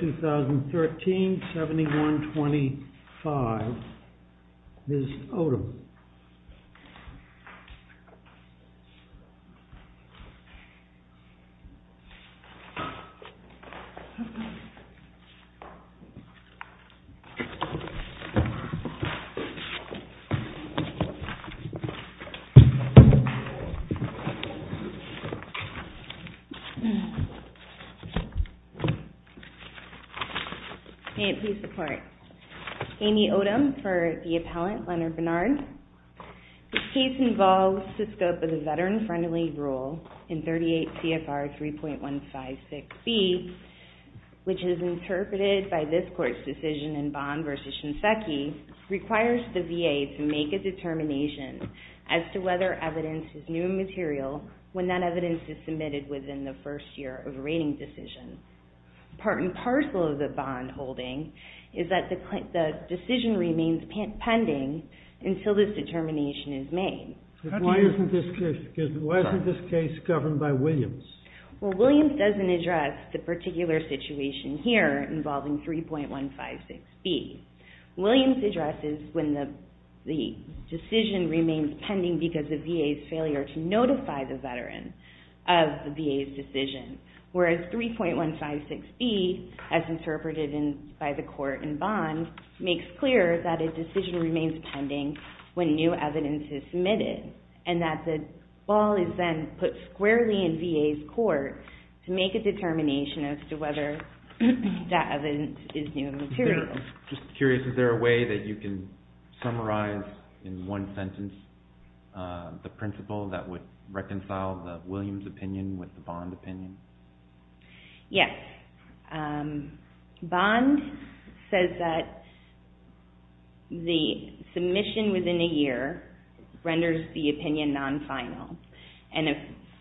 2013, 71-25, Ms. Odom. May it please the Court, Amy Odom for the appellant, Leonard Bernard. This case involves the scope of the Veteran-Friendly Rule in 38 CFR 3.156B, which is interpreted by this Court's decision in Bond v. Shinseki, requires the VA to make a determination as to whether evidence is new material when that evidence is submitted within the first year of rating decision. Part and parcel of the bond holding is that the decision remains pending until this determination is made. Why isn't this case governed by Williams? Well, Williams doesn't address the particular situation here involving 3.156B. Williams addresses when the decision remains pending because the VA's failure to notify the Veteran of the VA's decision, whereas 3.156B, as interpreted by the Court in Bond, makes clear that a decision remains pending when new evidence is submitted and that the ball is then put squarely in VA's court to make a determination as to whether that evidence is new material. Just curious, is there a way that you can summarize in one sentence the principle that would reconcile the Williams' opinion with the Bond opinion? Yes. Bond says that the submission within a year renders the opinion non-final and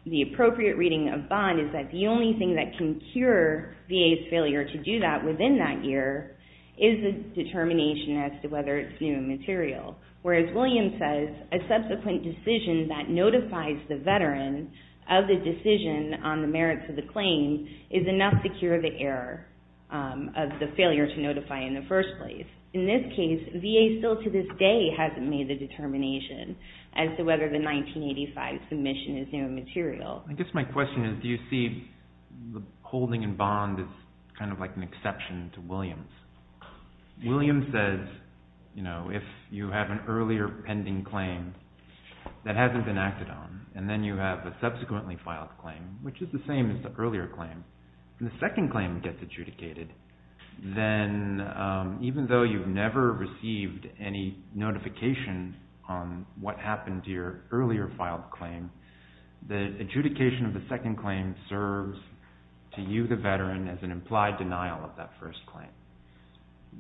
the appropriate reading of Bond is that the only thing that can cure VA's failure to do that within that year is the determination as to whether it's new material, whereas Williams says a subsequent decision that notifies the Veteran of the decision on the merits of the claim is enough to cure the error of the failure to notify in the first place. In this case, VA still to this day hasn't made the determination as to whether the 1985 submission is new material. I guess my question is, do you see the holding in Bond as kind of like an exception to Williams? Williams says, you know, if you have an earlier pending claim that hasn't been acted on and then you have a subsequently filed claim, which is the same as the earlier claim, and the second claim gets adjudicated, then even though you've never received any notification on what happened to your earlier filed claim, the adjudication of the second claim serves to you, the Veteran, as an implied denial of that first claim.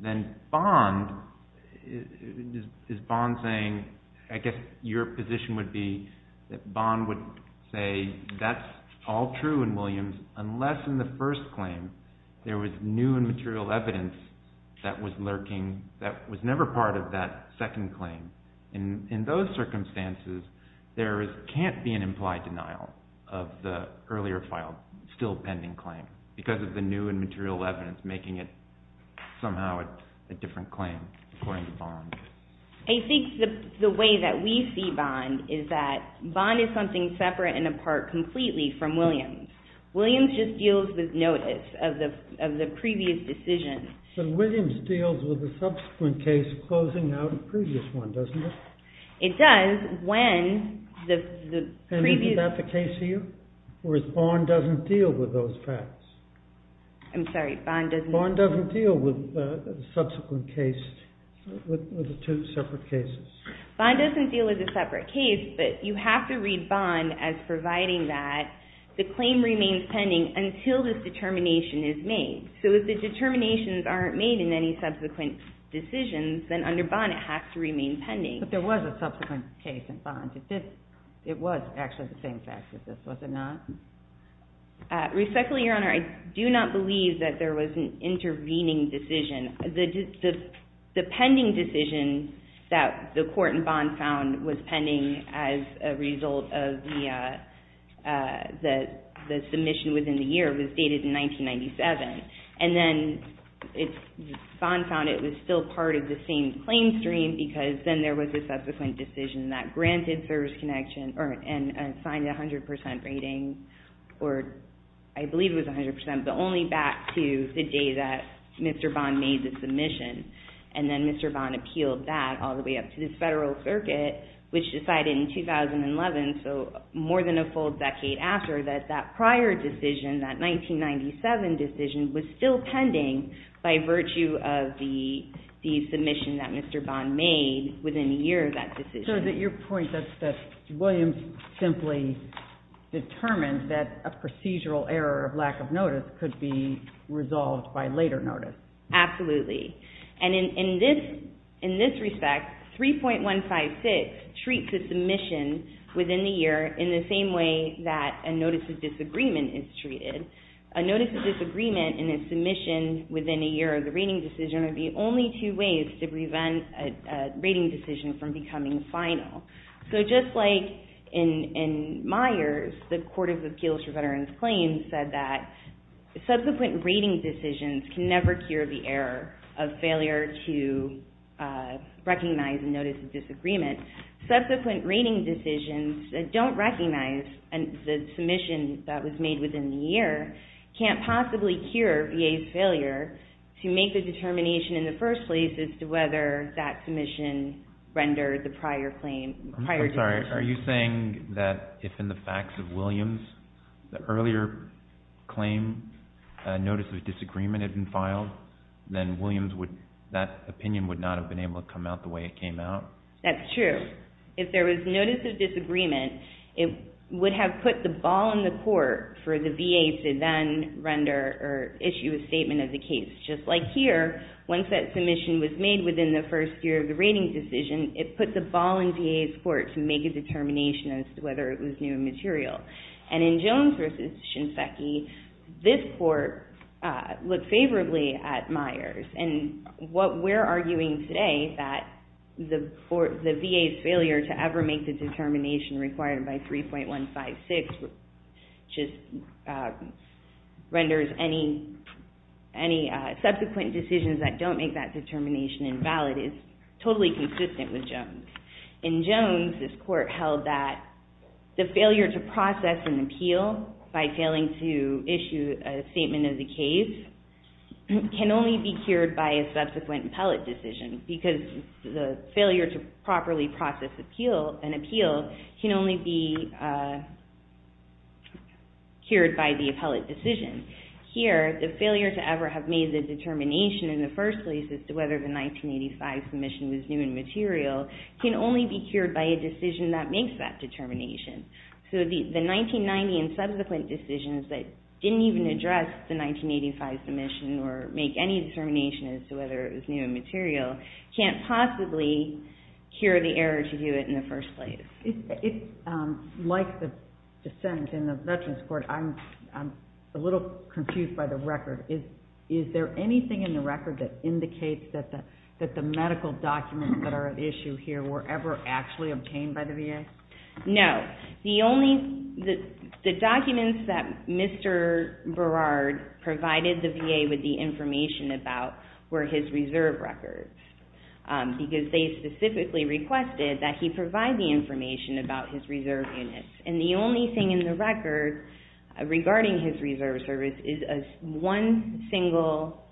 Then Bond, is Bond saying, I guess your position would be that Bond would say that's all true in Williams unless in the first claim there was new and material evidence that was lurking that was never part of that second claim. In those circumstances, there can't be an implied denial of the earlier filed still pending claim because of the new and material evidence making it somehow a different claim according to Bond. I think the way that we see Bond is that Bond is something separate and apart completely from Williams. Williams just deals with notice of the previous decision. So Williams deals with the subsequent case closing out a previous one, doesn't it? It does when the previous... And isn't that the case here? Whereas Bond doesn't deal with those facts. I'm sorry, Bond doesn't... Bond doesn't deal with the subsequent case, with the two separate cases. Bond doesn't deal with the separate case, but you have to read Bond as providing that the claim remains pending until the determination is made. So if the determinations aren't made in any subsequent decisions, then under Bond it has to remain pending. But there was a subsequent case in Bond. It was actually the same fact as this, was it not? Respectfully, Your Honor, I do not believe that there was an intervening decision. The pending decision that the court in Bond found was pending as a result of the submission within the year. It was dated in 1997. And then Bond found it was still part of the same claim stream because then there was a subsequent decision that granted service connection and signed a 100% rating, or I believe it was 100%, but only back to the day that Mr. Bond made the submission. And then Mr. Bond appealed that all the way up to the federal circuit, which decided in that 1997 decision was still pending by virtue of the submission that Mr. Bond made within a year of that decision. So is it your point that Williams simply determined that a procedural error of lack of notice could be resolved by later notice? Absolutely. And in this respect, 3.156 treats a submission within the year in the same way that a notice of disagreement is treated. A notice of disagreement in a submission within a year of the rating decision would be only two ways to prevent a rating decision from becoming final. So just like in Myers, the Court of Appeals for Veterans Claims said that subsequent rating decisions can never cure the error of failure to recognize a notice of disagreement, subsequent rating decisions that don't recognize the submission that was made within the year can't possibly cure VA's failure to make the determination in the first place as to whether that submission rendered the prior claim, prior decision. I'm sorry. Are you saying that if in the facts of Williams, the earlier claim notice of disagreement had been filed, then Williams would, that opinion would not have been able to come out the way it came out? That's true. If there was notice of disagreement, it would have put the ball in the court for the VA to then render or issue a statement of the case. Just like here, once that submission was made within the first year of the rating decision, it put the ball in VA's court to make a determination as to whether it was new material. And in Jones v. Shinseki, this court looked favorably at Myers. And what we're arguing today, that the VA's failure to ever make the determination required by 3.156 just renders any subsequent decisions that don't make that determination invalid is totally consistent with Jones. In Jones, this court held that the failure to process an appeal by failing to issue a determination can only be cured by a subsequent appellate decision, because the failure to properly process an appeal can only be cured by the appellate decision. Here, the failure to ever have made the determination in the first place as to whether the 1985 submission was new and material can only be cured by a decision that makes that determination. So the 1990 and subsequent decisions that didn't even address the 1985 submission or make any determination as to whether it was new and material can't possibly cure the error to do it in the first place. Like the sentence in the Veterans Court, I'm a little confused by the record. Is there anything in the record that indicates that the medical documents that are at issue here were ever actually obtained by the VA? No. The documents that Mr. Berard provided the VA with the information about were his reserve records, because they specifically requested that he provide the information about his reserve units. And the only thing in the record regarding his reserve service is one single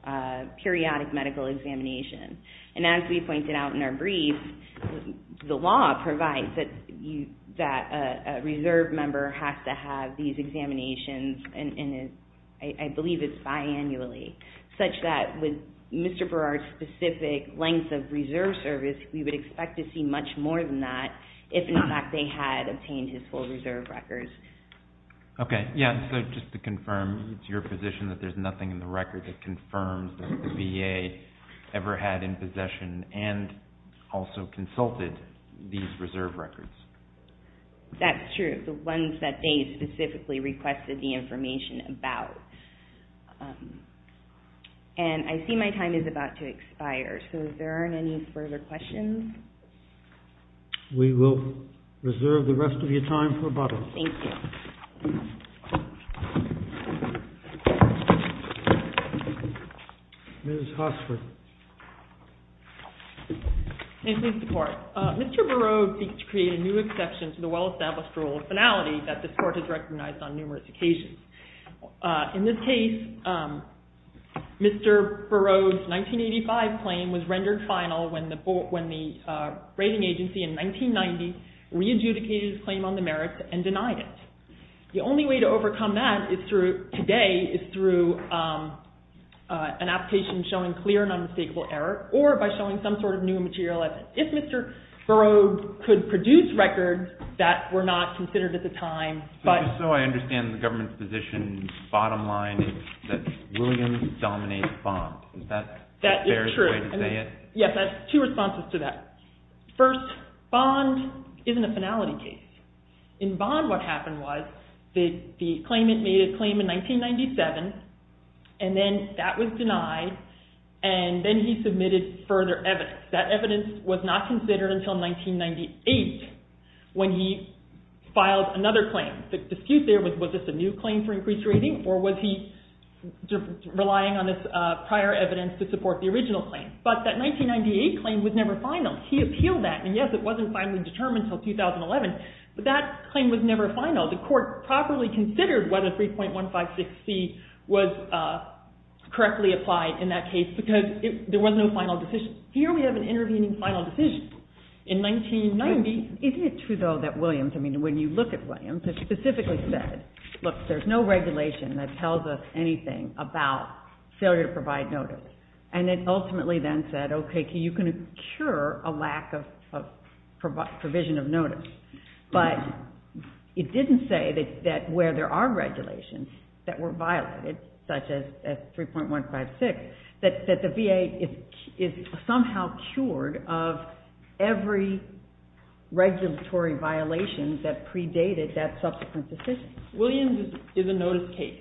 periodic medical examination. And as we pointed out in our brief, the law provides that a reserve member has to have these examinations, and I believe it's biannually, such that with Mr. Berard's specific length of reserve service, we would expect to see much more than that if, in fact, they had obtained his full reserve records. Okay. Yeah, so just to confirm to your position that there's nothing in the record that confirms that the VA ever had in possession and also consulted these reserve records? That's true. The ones that they specifically requested the information about. And I see my time is about to expire, so if there aren't any further questions. We will reserve the rest of your time for a bottle. Thank you. Ms. Hosford. Thank you, Mr. Court. Mr. Berard seeks to create a new exception to the well-established rule of finality that this Court has recognized on numerous occasions. In this case, Mr. Berard's 1985 claim was rendered final when the rating agency in 1990 re-adjudicated his claim on the merits and denied it. The only way to overcome that today is through an application showing clear and unmistakable error or by showing some sort of new material as if Mr. Berard could produce records that were not considered at the time. Just so I understand the government's position, the bottom line is that Williams dominates Bond. Is that a fair way to say it? That is true. Yes, I have two responses to that. First, Bond isn't a finality case. In Bond, what happened was the claimant made a claim in 1997 and then that was denied and then he submitted further evidence. That evidence was not considered until 1998 when he filed another claim. The dispute there was, was this a new claim for increased rating or was he relying on this prior evidence to support the original claim? But that 1998 claim was never final. He appealed that. And yes, it wasn't finally determined until 2011, but that claim was never final. The court properly considered whether 3.156C was correctly applied in that case because there was no final decision. Here we have an intervening final decision in 1990. Isn't it true, though, that Williams, I mean, when you look at Williams, it specifically said, look, there's no regulation that tells us anything about failure to provide notice. And it ultimately then said, okay, you can cure a lack of provision of notice. But it didn't say that where there are regulations that were violated, such as 3.156, that the VA is somehow cured of every regulatory violation that predated that subsequent decision. Williams is a notice case.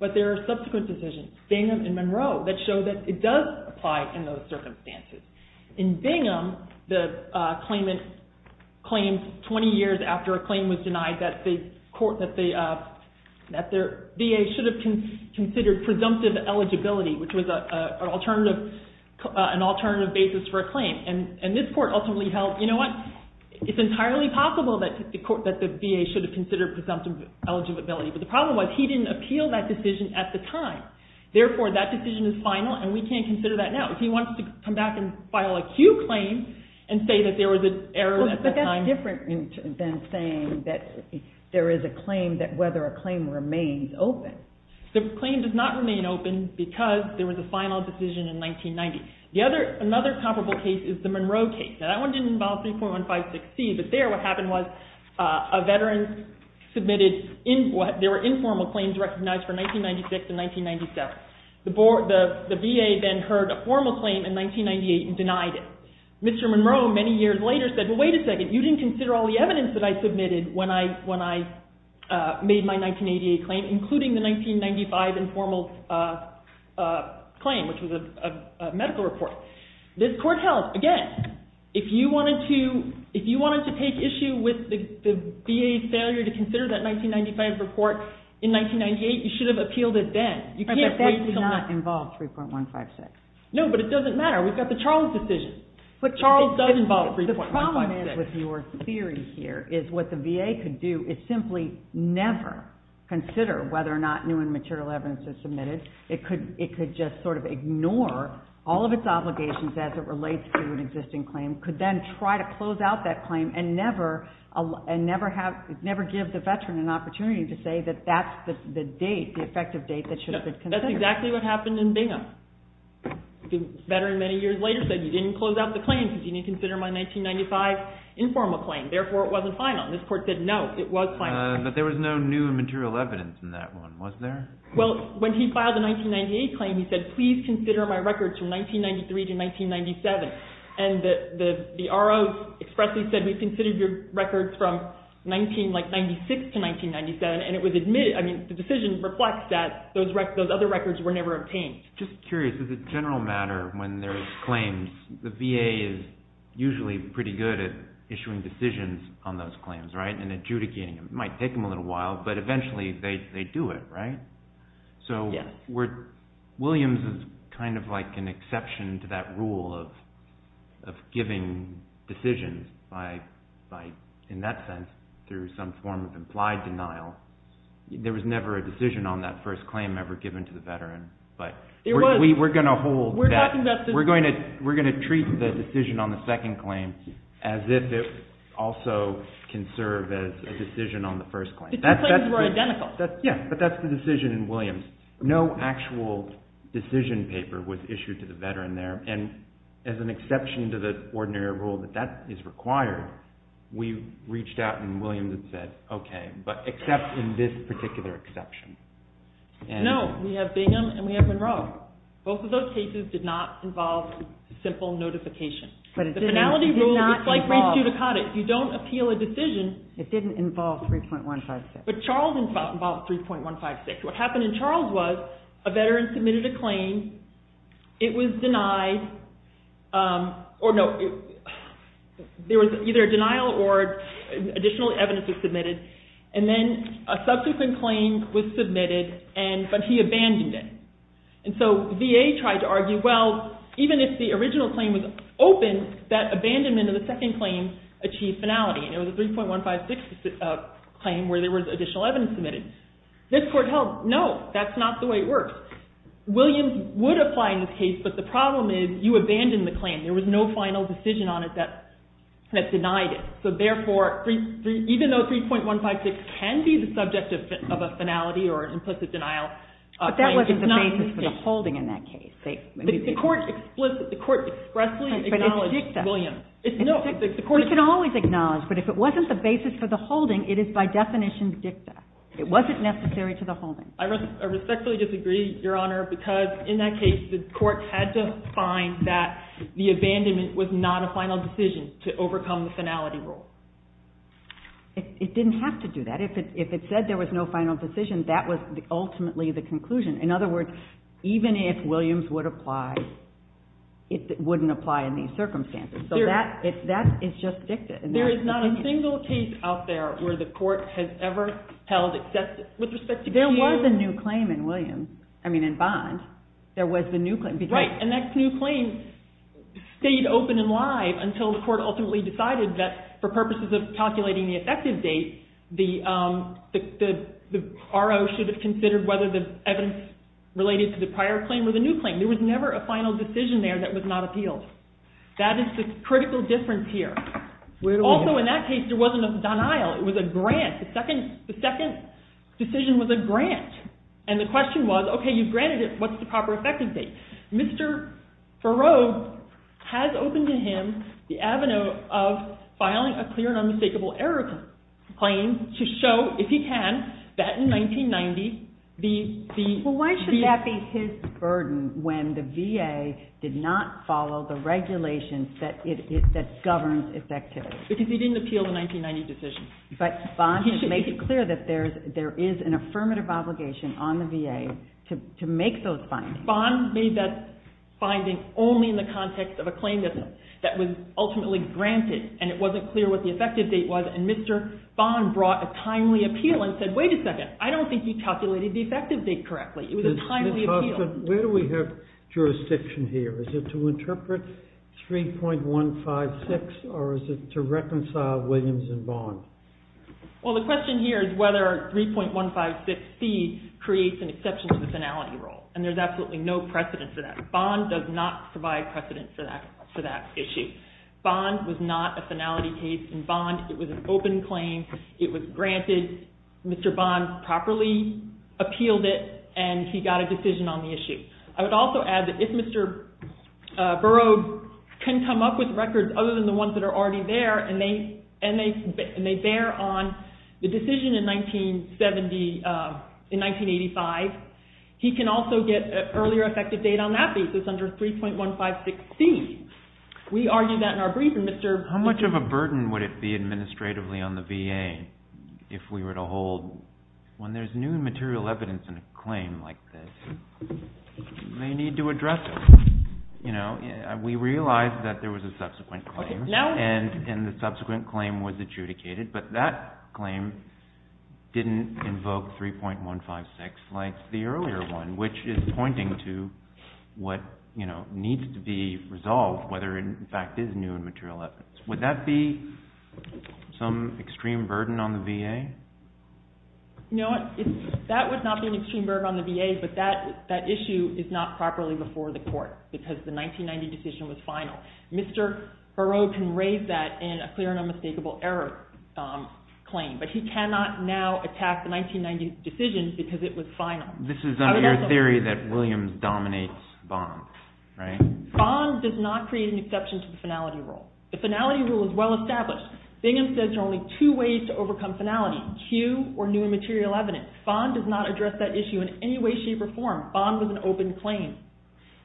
But there are subsequent decisions, Bingham and Monroe, that show that it does apply in those circumstances. In Bingham, the claimant claimed 20 years after a claim was denied that the VA should have considered presumptive eligibility, which was an alternative basis for a claim. And this court ultimately held, you know what, it's entirely possible that the VA should have considered presumptive eligibility. But the problem was he didn't appeal that decision at the time. Therefore, that decision is final, and we can't consider that now. If he wants to come back and file a Q claim and say that there was an error at that time. But that's different than saying that there is a claim that whether a claim remains open. The claim does not remain open because there was a final decision in 1990. Another comparable case is the Monroe case. Now, that one didn't involve 3.156C, but there what happened was a veteran submitted, there were informal claims recognized for 1996 and 1997. The VA then heard a formal claim in 1998 and denied it. Mr. Monroe many years later said, well, wait a second, you didn't consider all the evidence that I submitted when I made my 1988 claim, including the 1995 informal claim, which was a medical report. This court held, again, if you wanted to take issue with the VA's failure to consider that 1995 report in 1998, you should have appealed it then. You can't wait until now. But that does not involve 3.156. No, but it doesn't matter. We've got the Charles decision. But Charles does involve 3.156. The problem is with your theory here is what the VA could do is simply never consider whether or not new and material evidence is submitted. It could just sort of ignore all of its obligations as it relates to an existing claim, could then try to close out that claim and never give the veteran an opportunity to say that that's the date, the effective date that should have been considered. That's exactly what happened in Bingham. The veteran many years later said, you didn't close out the claim because you didn't consider my 1995 informal claim. Therefore, it wasn't final. This court said, no, it was final. But there was no new and material evidence in that one, was there? Well, when he filed the 1998 claim, he said, please consider my records from 1993 to 1997. And the RO expressly said, we've considered your records from 1996 to 1997. And the decision reflects that those other records were never obtained. Just curious, is it a general matter when there's claims, the VA is usually pretty good at issuing decisions on those claims, right, and adjudicating them. It might take them a little while, but eventually they do it, right? So Williams is kind of like an exception to that rule of giving decisions by, in that sense, through some form of implied denial. There was never a decision on that first claim ever given to the veteran. But we're going to treat the decision on the second claim as if it also can serve as a decision on the first claim. The two claims were identical. Yeah, but that's the decision in Williams. No actual decision paper was issued to the veteran there. And as an exception to the ordinary rule that that is required, we reached out and Williams had said, okay, but except in this particular exception. No, we have Bingham and we have Monroe. Both of those cases did not involve simple notification. But it did not involve. The finality rule, it's like race eudicotic. You don't appeal a decision. It didn't involve 3.156. But Charles involved 3.156. What happened in Charles was a veteran submitted a claim. It was denied. Or no, there was either a denial or additional evidence was submitted. And then a subsequent claim was submitted, but he abandoned it. And so VA tried to argue, well, even if the original claim was open, that abandonment of the second claim achieved finality. And it was a 3.156 claim where there was additional evidence submitted. This court held, no, that's not the way it works. Williams would apply in this case, but the problem is you abandoned the claim. There was no final decision on it that denied it. So therefore, even though 3.156 can be the subject of a finality or an implicit denial, that claim is not the case. But that wasn't the basis for the holding in that case. The court expressly acknowledged Williams. But it's dicta. No. We can always acknowledge, but if it wasn't the basis for the holding, it is by definition dicta. It wasn't necessary to the holding. I respectfully disagree, Your Honor, because in that case, the court had to find that the abandonment was not a final decision to overcome the finality rule. It didn't have to do that. But if it said there was no final decision, that was ultimately the conclusion. In other words, even if Williams would apply, it wouldn't apply in these circumstances. So that is just dicta. There is not a single case out there where the court has ever held excessive with respect to cues. There was a new claim in Williams. I mean, in Bond. There was the new claim. Right. And that new claim stayed open and live until the court ultimately decided that for purposes of calculating the effective date, the RO should have considered whether the evidence related to the prior claim or the new claim. There was never a final decision there that was not appealed. That is the critical difference here. Also, in that case, there wasn't a denial. It was a grant. The second decision was a grant. And the question was, okay, you've granted it. What's the proper effective date? Mr. Farrow has opened to him the avenue of filing a clear and unmistakable error claim to show, if he can, that in 1990, the VA. Well, why should that be his burden when the VA did not follow the regulations that govern its activity? Because he didn't appeal the 1990 decision. But Bond makes it clear that there is an affirmative obligation on the VA to make those findings. Bond made that finding only in the context of a claim that was ultimately granted and it wasn't clear what the effective date was. And Mr. Bond brought a timely appeal and said, wait a second, I don't think you calculated the effective date correctly. It was a timely appeal. Where do we have jurisdiction here? Is it to interpret 3.156 or is it to reconcile Williams and Bond? Well, the question here is whether 3.156C creates an exception to the finality rule. And there's absolutely no precedent for that. Bond does not provide precedent for that issue. Bond was not a finality case in Bond. It was an open claim. It was granted. Mr. Bond properly appealed it and he got a decision on the issue. I would also add that if Mr. Burroughs can come up with records other than the ones that are already there and they bear on the decision in 1985, he can also get an earlier effective date on that basis under 3.156C. We argued that in our briefing. How much of a burden would it be administratively on the VA if we were to hold when there's new material evidence in a claim like this? They need to address it. We realized that there was a subsequent claim and the subsequent claim was adjudicated, but that claim didn't invoke 3.156 like the earlier one, which is pointing to what needs to be resolved, whether it in fact is new material evidence. Would that be some extreme burden on the VA? No, that would not be an extreme burden on the VA, but that issue is not properly before the court because the 1990 decision was final. Mr. Burroughs can raise that in a clear and unmistakable error claim, but he cannot now attack the 1990 decision because it was final. This is under your theory that Williams dominates Bond, right? Bond does not create an exception to the finality rule. The finality rule is well established. Bingham says there are only two ways to overcome finality, new or new material evidence. Bond does not address that issue in any way, shape, or form. Bond was an open claim.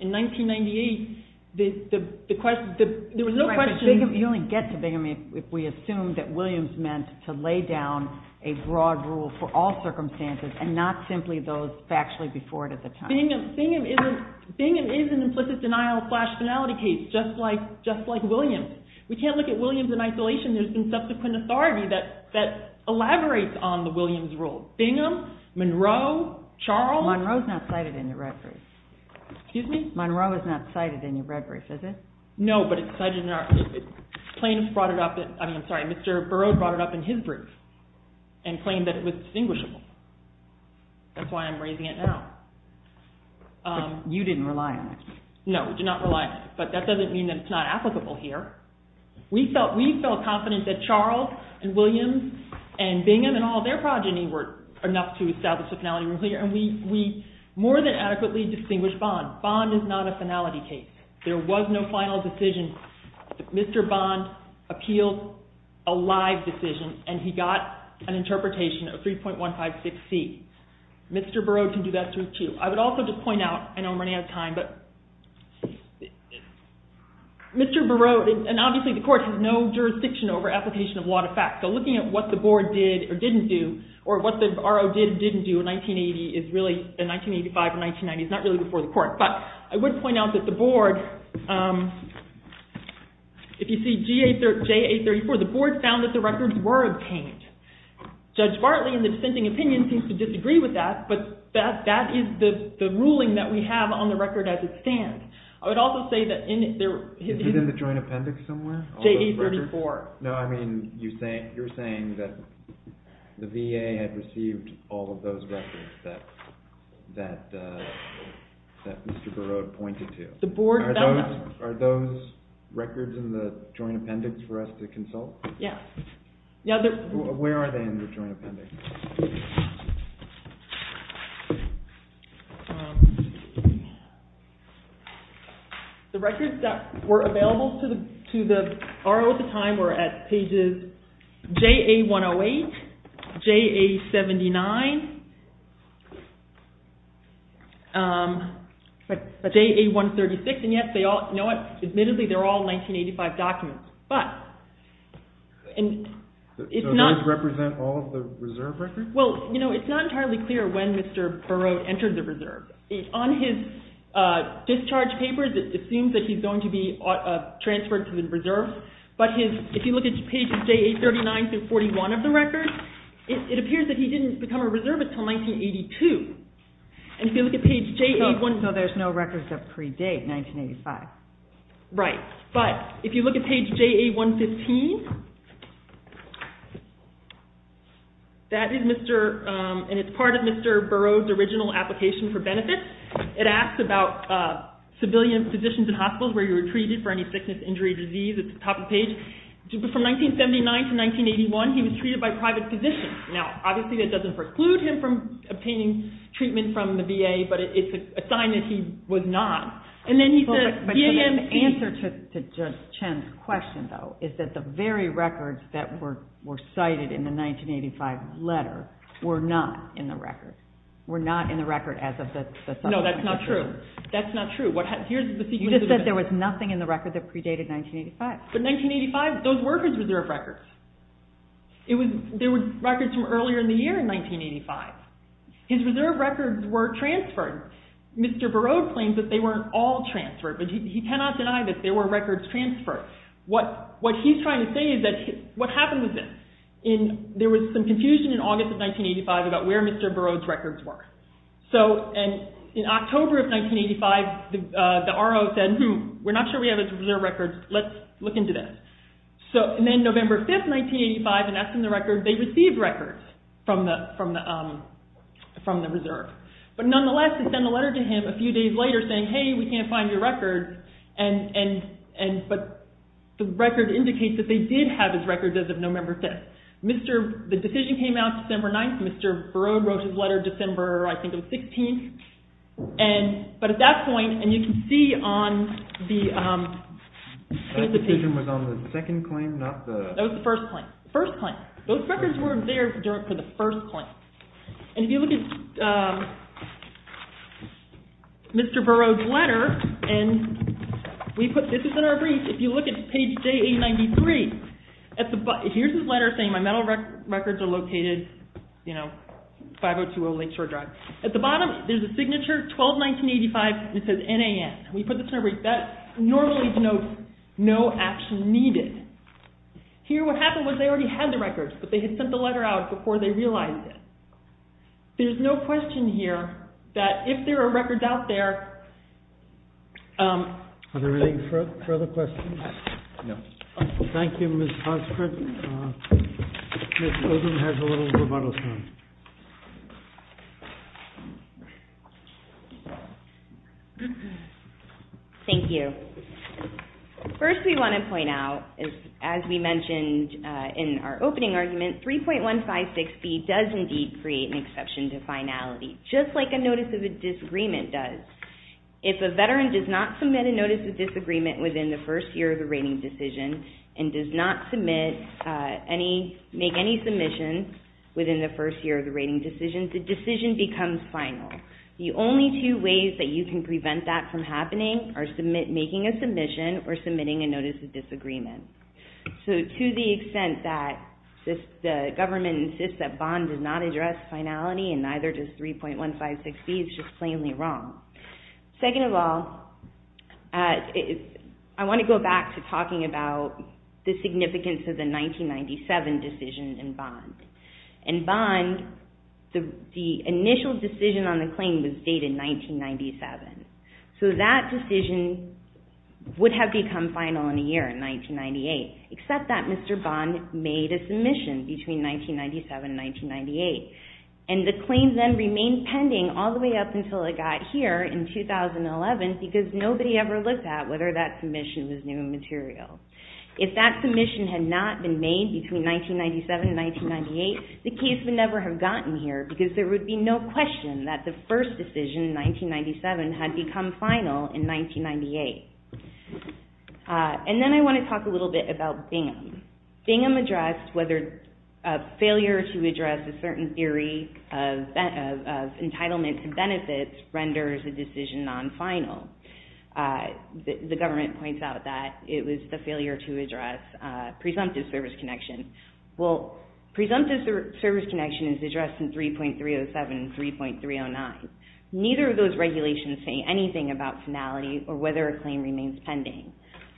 In 1998, there was no question... You only get to Bingham if we assume that Williams meant to lay down a broad rule for all circumstances and not simply those factually before it at the time. Bingham is an implicit denial of flash finality case, just like Williams. We can't look at Williams in isolation. There's been subsequent authority that elaborates on the Williams rule. Bingham, Monroe, Charles... Excuse me? Monroe is not cited in your red brief, is it? No, but Mr. Burroughs brought it up in his brief and claimed that it was distinguishable. That's why I'm raising it now. But you didn't rely on it. No, we did not rely on it, but that doesn't mean that it's not applicable here. We felt confident that Charles and Williams and Bingham and all their progeny were enough to establish the finality rule here, and we more than adequately distinguished Bond. Bond is not a finality case. There was no final decision. Mr. Bond appealed a live decision, and he got an interpretation of 3.156C. Mr. Burroughs can do that too. I would also just point out... I know I'm running out of time, but... Mr. Burroughs... And obviously the court has no jurisdiction over application of law to fact, so looking at what the board did or didn't do, or what the RO did and didn't do in 1985 and 1990, it's not really before the court, but I would point out that the board, if you see JA34, the board found that the records were obtained. Judge Bartley, in the dissenting opinion, seems to disagree with that, but that is the ruling that we have on the record as it stands. I would also say that... Is it in the joint appendix somewhere? JA34. No, I mean, you're saying that the VA had received all of those records that Mr. Burroughs pointed to. Are those records in the joint appendix for us to consult? Yes. Where are they in the joint appendix? The records that were available to the RO at the time were at pages JA108, JA79, JA136, and yes, you know what? Admittedly, they're all 1985 documents, but... Do those represent all of the reserve records? Well, you know, it's not entirely clear when Mr. Burroughs entered the reserve. On his discharge papers, it seems that he's going to be transferred to the reserve, but if you look at pages JA39 through 41 of the record, it appears that he didn't become a reservist until 1982, and if you look at page JA... So there's no records of pre-date 1985. Right, but if you look at page JA115, that is part of Mr. Burroughs' original application for benefits. It asks about civilian physicians and hospitals where you were treated for any sickness, injury, or disease. It's at the top of the page. From 1979 to 1981, he was treated by private physicians. Now, obviously that doesn't preclude him from obtaining treatment from the VA, but it's a sign that he was not. The answer to Chen's question, though, is that the very records that were cited in the 1985 letter were not in the record. Were not in the record as of the... No, that's not true. That's not true. You just said there was nothing in the record that predated 1985. But 1985, those were his reserve records. There were records from earlier in the year in 1985. His reserve records were transferred. Mr. Burroughs claims that they weren't all transferred, but he cannot deny that there were records transferred. What he's trying to say is that what happened was this. There was some confusion in August of 1985 about where Mr. Burroughs' records were. In October of 1985, the RO said, hmm, we're not sure we have his reserve records. Let's look into this. Then November 5th, 1985, and that's in the record, they received records from the reserve. But nonetheless, they sent a letter to him a few days later saying, hey, we can't find your records. But the record indicates that they did have his records as of November 5th. The decision came out December 9th. Mr. Burroughs wrote his letter December, I think it was 16th. But at that point, and you can see on the... That decision was on the second claim, not the... That was the first claim. First claim. Those records weren't there for the first claim. And if you look at Mr. Burroughs' letter, and we put, this is in our brief, if you look at page JA93, here's his letter saying my metal records are located, you know, 5020 Lake Shore Drive. At the bottom, there's a signature, 12-1985, and it says NAN. We put this in our brief. Here what happened was they already had the records, but they had sent the letter out before they realized it. There's no question here that if there are records out there... Are there any further questions? No. Thank you, Ms. Hartsford. Ms. Oden has a little rebuttal time. Thank you. First we want to point out, as we mentioned in our opening argument, 3.156B does indeed create an exception to finality, just like a notice of a disagreement does. If a veteran does not submit a notice of disagreement within the first year of the rating decision and does not make any submissions within the first year of the rating decision, the decision becomes final. The only two ways that you can prevent that from happening are making a submission or submitting a notice of disagreement. To the extent that the government insists that Bond does not address finality, and neither does 3.156B, it's just plainly wrong. Second of all, I want to go back to talking about the significance of the 1997 decision in Bond. In Bond, the initial decision on the claim was dated 1997. That decision would have become final in a year, in 1998, except that Mr. Bond made a submission between 1997 and 1998. The claim then remained pending all the way up until it got here in 2011 because nobody ever looked at whether that submission was new material. If that submission had not been made between 1997 and 1998, the case would never have gotten here because there would be no question that the first decision in 1997 had become final in 1998. And then I want to talk a little bit about Bingham. Bingham addressed whether failure to address a certain theory of entitlement to benefits renders a decision non-final. The government points out that it was the failure to address presumptive service connection. Well, presumptive service connection is addressed in 3.307 and 3.309. Neither of those regulations say anything about finality or whether a claim remains pending.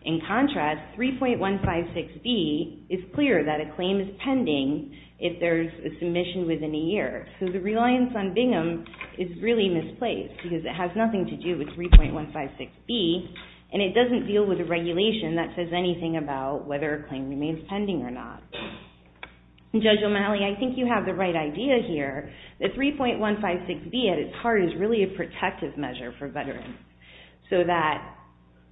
In contrast, 3.156B is clear that a claim is pending if there's a submission within a year. So the reliance on Bingham is really misplaced because it has nothing to do with 3.156B and it doesn't deal with a regulation that says anything about whether a claim remains pending or not. Judge O'Malley, I think you have the right idea here. The 3.156B at its heart is really a protective measure for veterans so that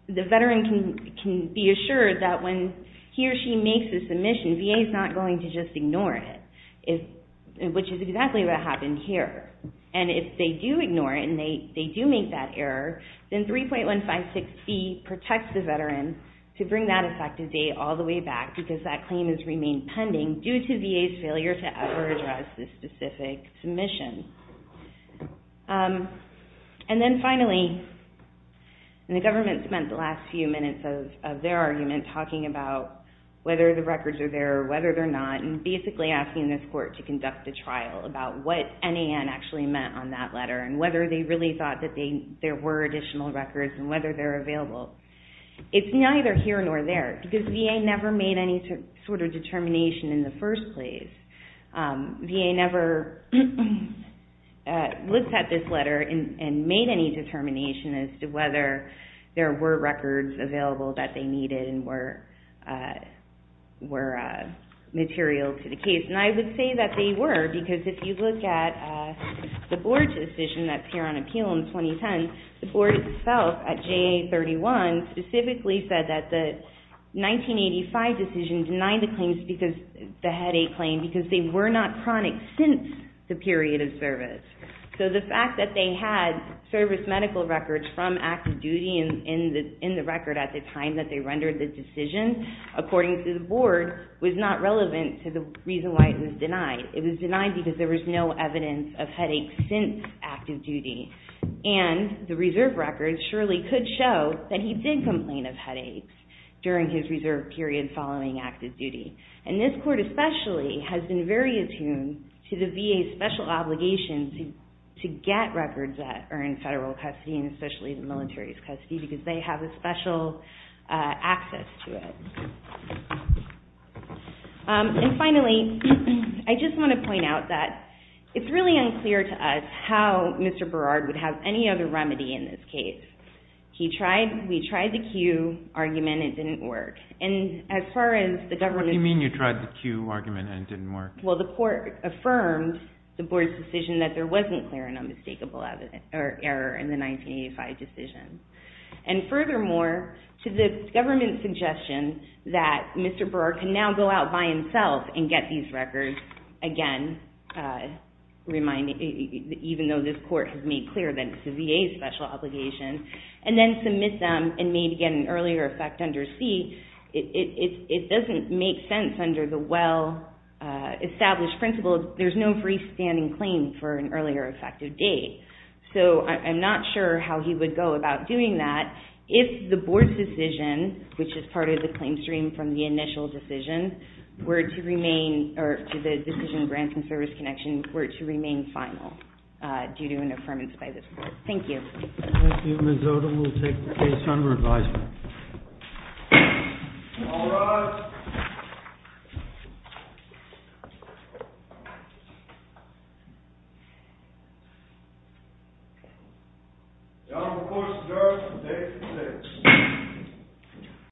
the veteran can be assured that when he or she makes a submission, VA is not going to just ignore it, which is exactly what happened here. And if they do ignore it and they do make that error, then 3.156B protects the veteran to bring that effective date all the way back because that claim has remained pending due to VA's failure to ever address this specific submission. And then finally, the government spent the last few minutes of their argument talking about whether the records are there or whether they're not and basically asking this court to conduct a trial about what NAN actually meant on that letter and whether they really thought that there were additional records and whether they're available. It's neither here nor there because VA never made any sort of determination in the first place. VA never looked at this letter and made any determination as to whether there were records available that they needed and were material to the case. And I would say that they were because if you look at the board's decision that's here on appeal in 2010, the board itself at JA31 specifically said that the 1985 decision denied the headache claim because they were not chronic since the period of service. So the fact that they had service medical records from active duty in the record at the time that they rendered the decision, according to the board, was not relevant to the reason why it was denied. It was denied because there was no evidence of headaches since active duty. And the reserve records surely could show that he did complain of headaches during his reserve period following active duty. And this court especially has been very attuned to the VA's special obligation to get records that are in federal custody and especially the military's custody because they have a special access to it. And finally, I just want to point out that it's really unclear to us how Mr. Berard would have any other remedy in this case. We tried the Q argument and it didn't work. And as far as the government... What do you mean you tried the Q argument and it didn't work? Well, the court affirmed the board's decision that there wasn't clear and unmistakable error in the 1985 decision. And furthermore, to the government's suggestion that Mr. Berard can now go out by himself and get these records, again, even though this court has made clear that it's the VA's special obligation, and then submit them and may begin an earlier effect under C, it doesn't make sense under the well-established principle that there's no freestanding claim for an earlier effective date. So I'm not sure how he would go about doing that if the board's decision, which is part of the claim stream from the initial decision, were to remain, or to the decision of Grants and Service Connections, were to remain final, due to an affirmance by this court. Thank you. Thank you, Ms. Oda. We'll take the case under advisement. All rise. The Honorable Court's adjourned. The case is closed.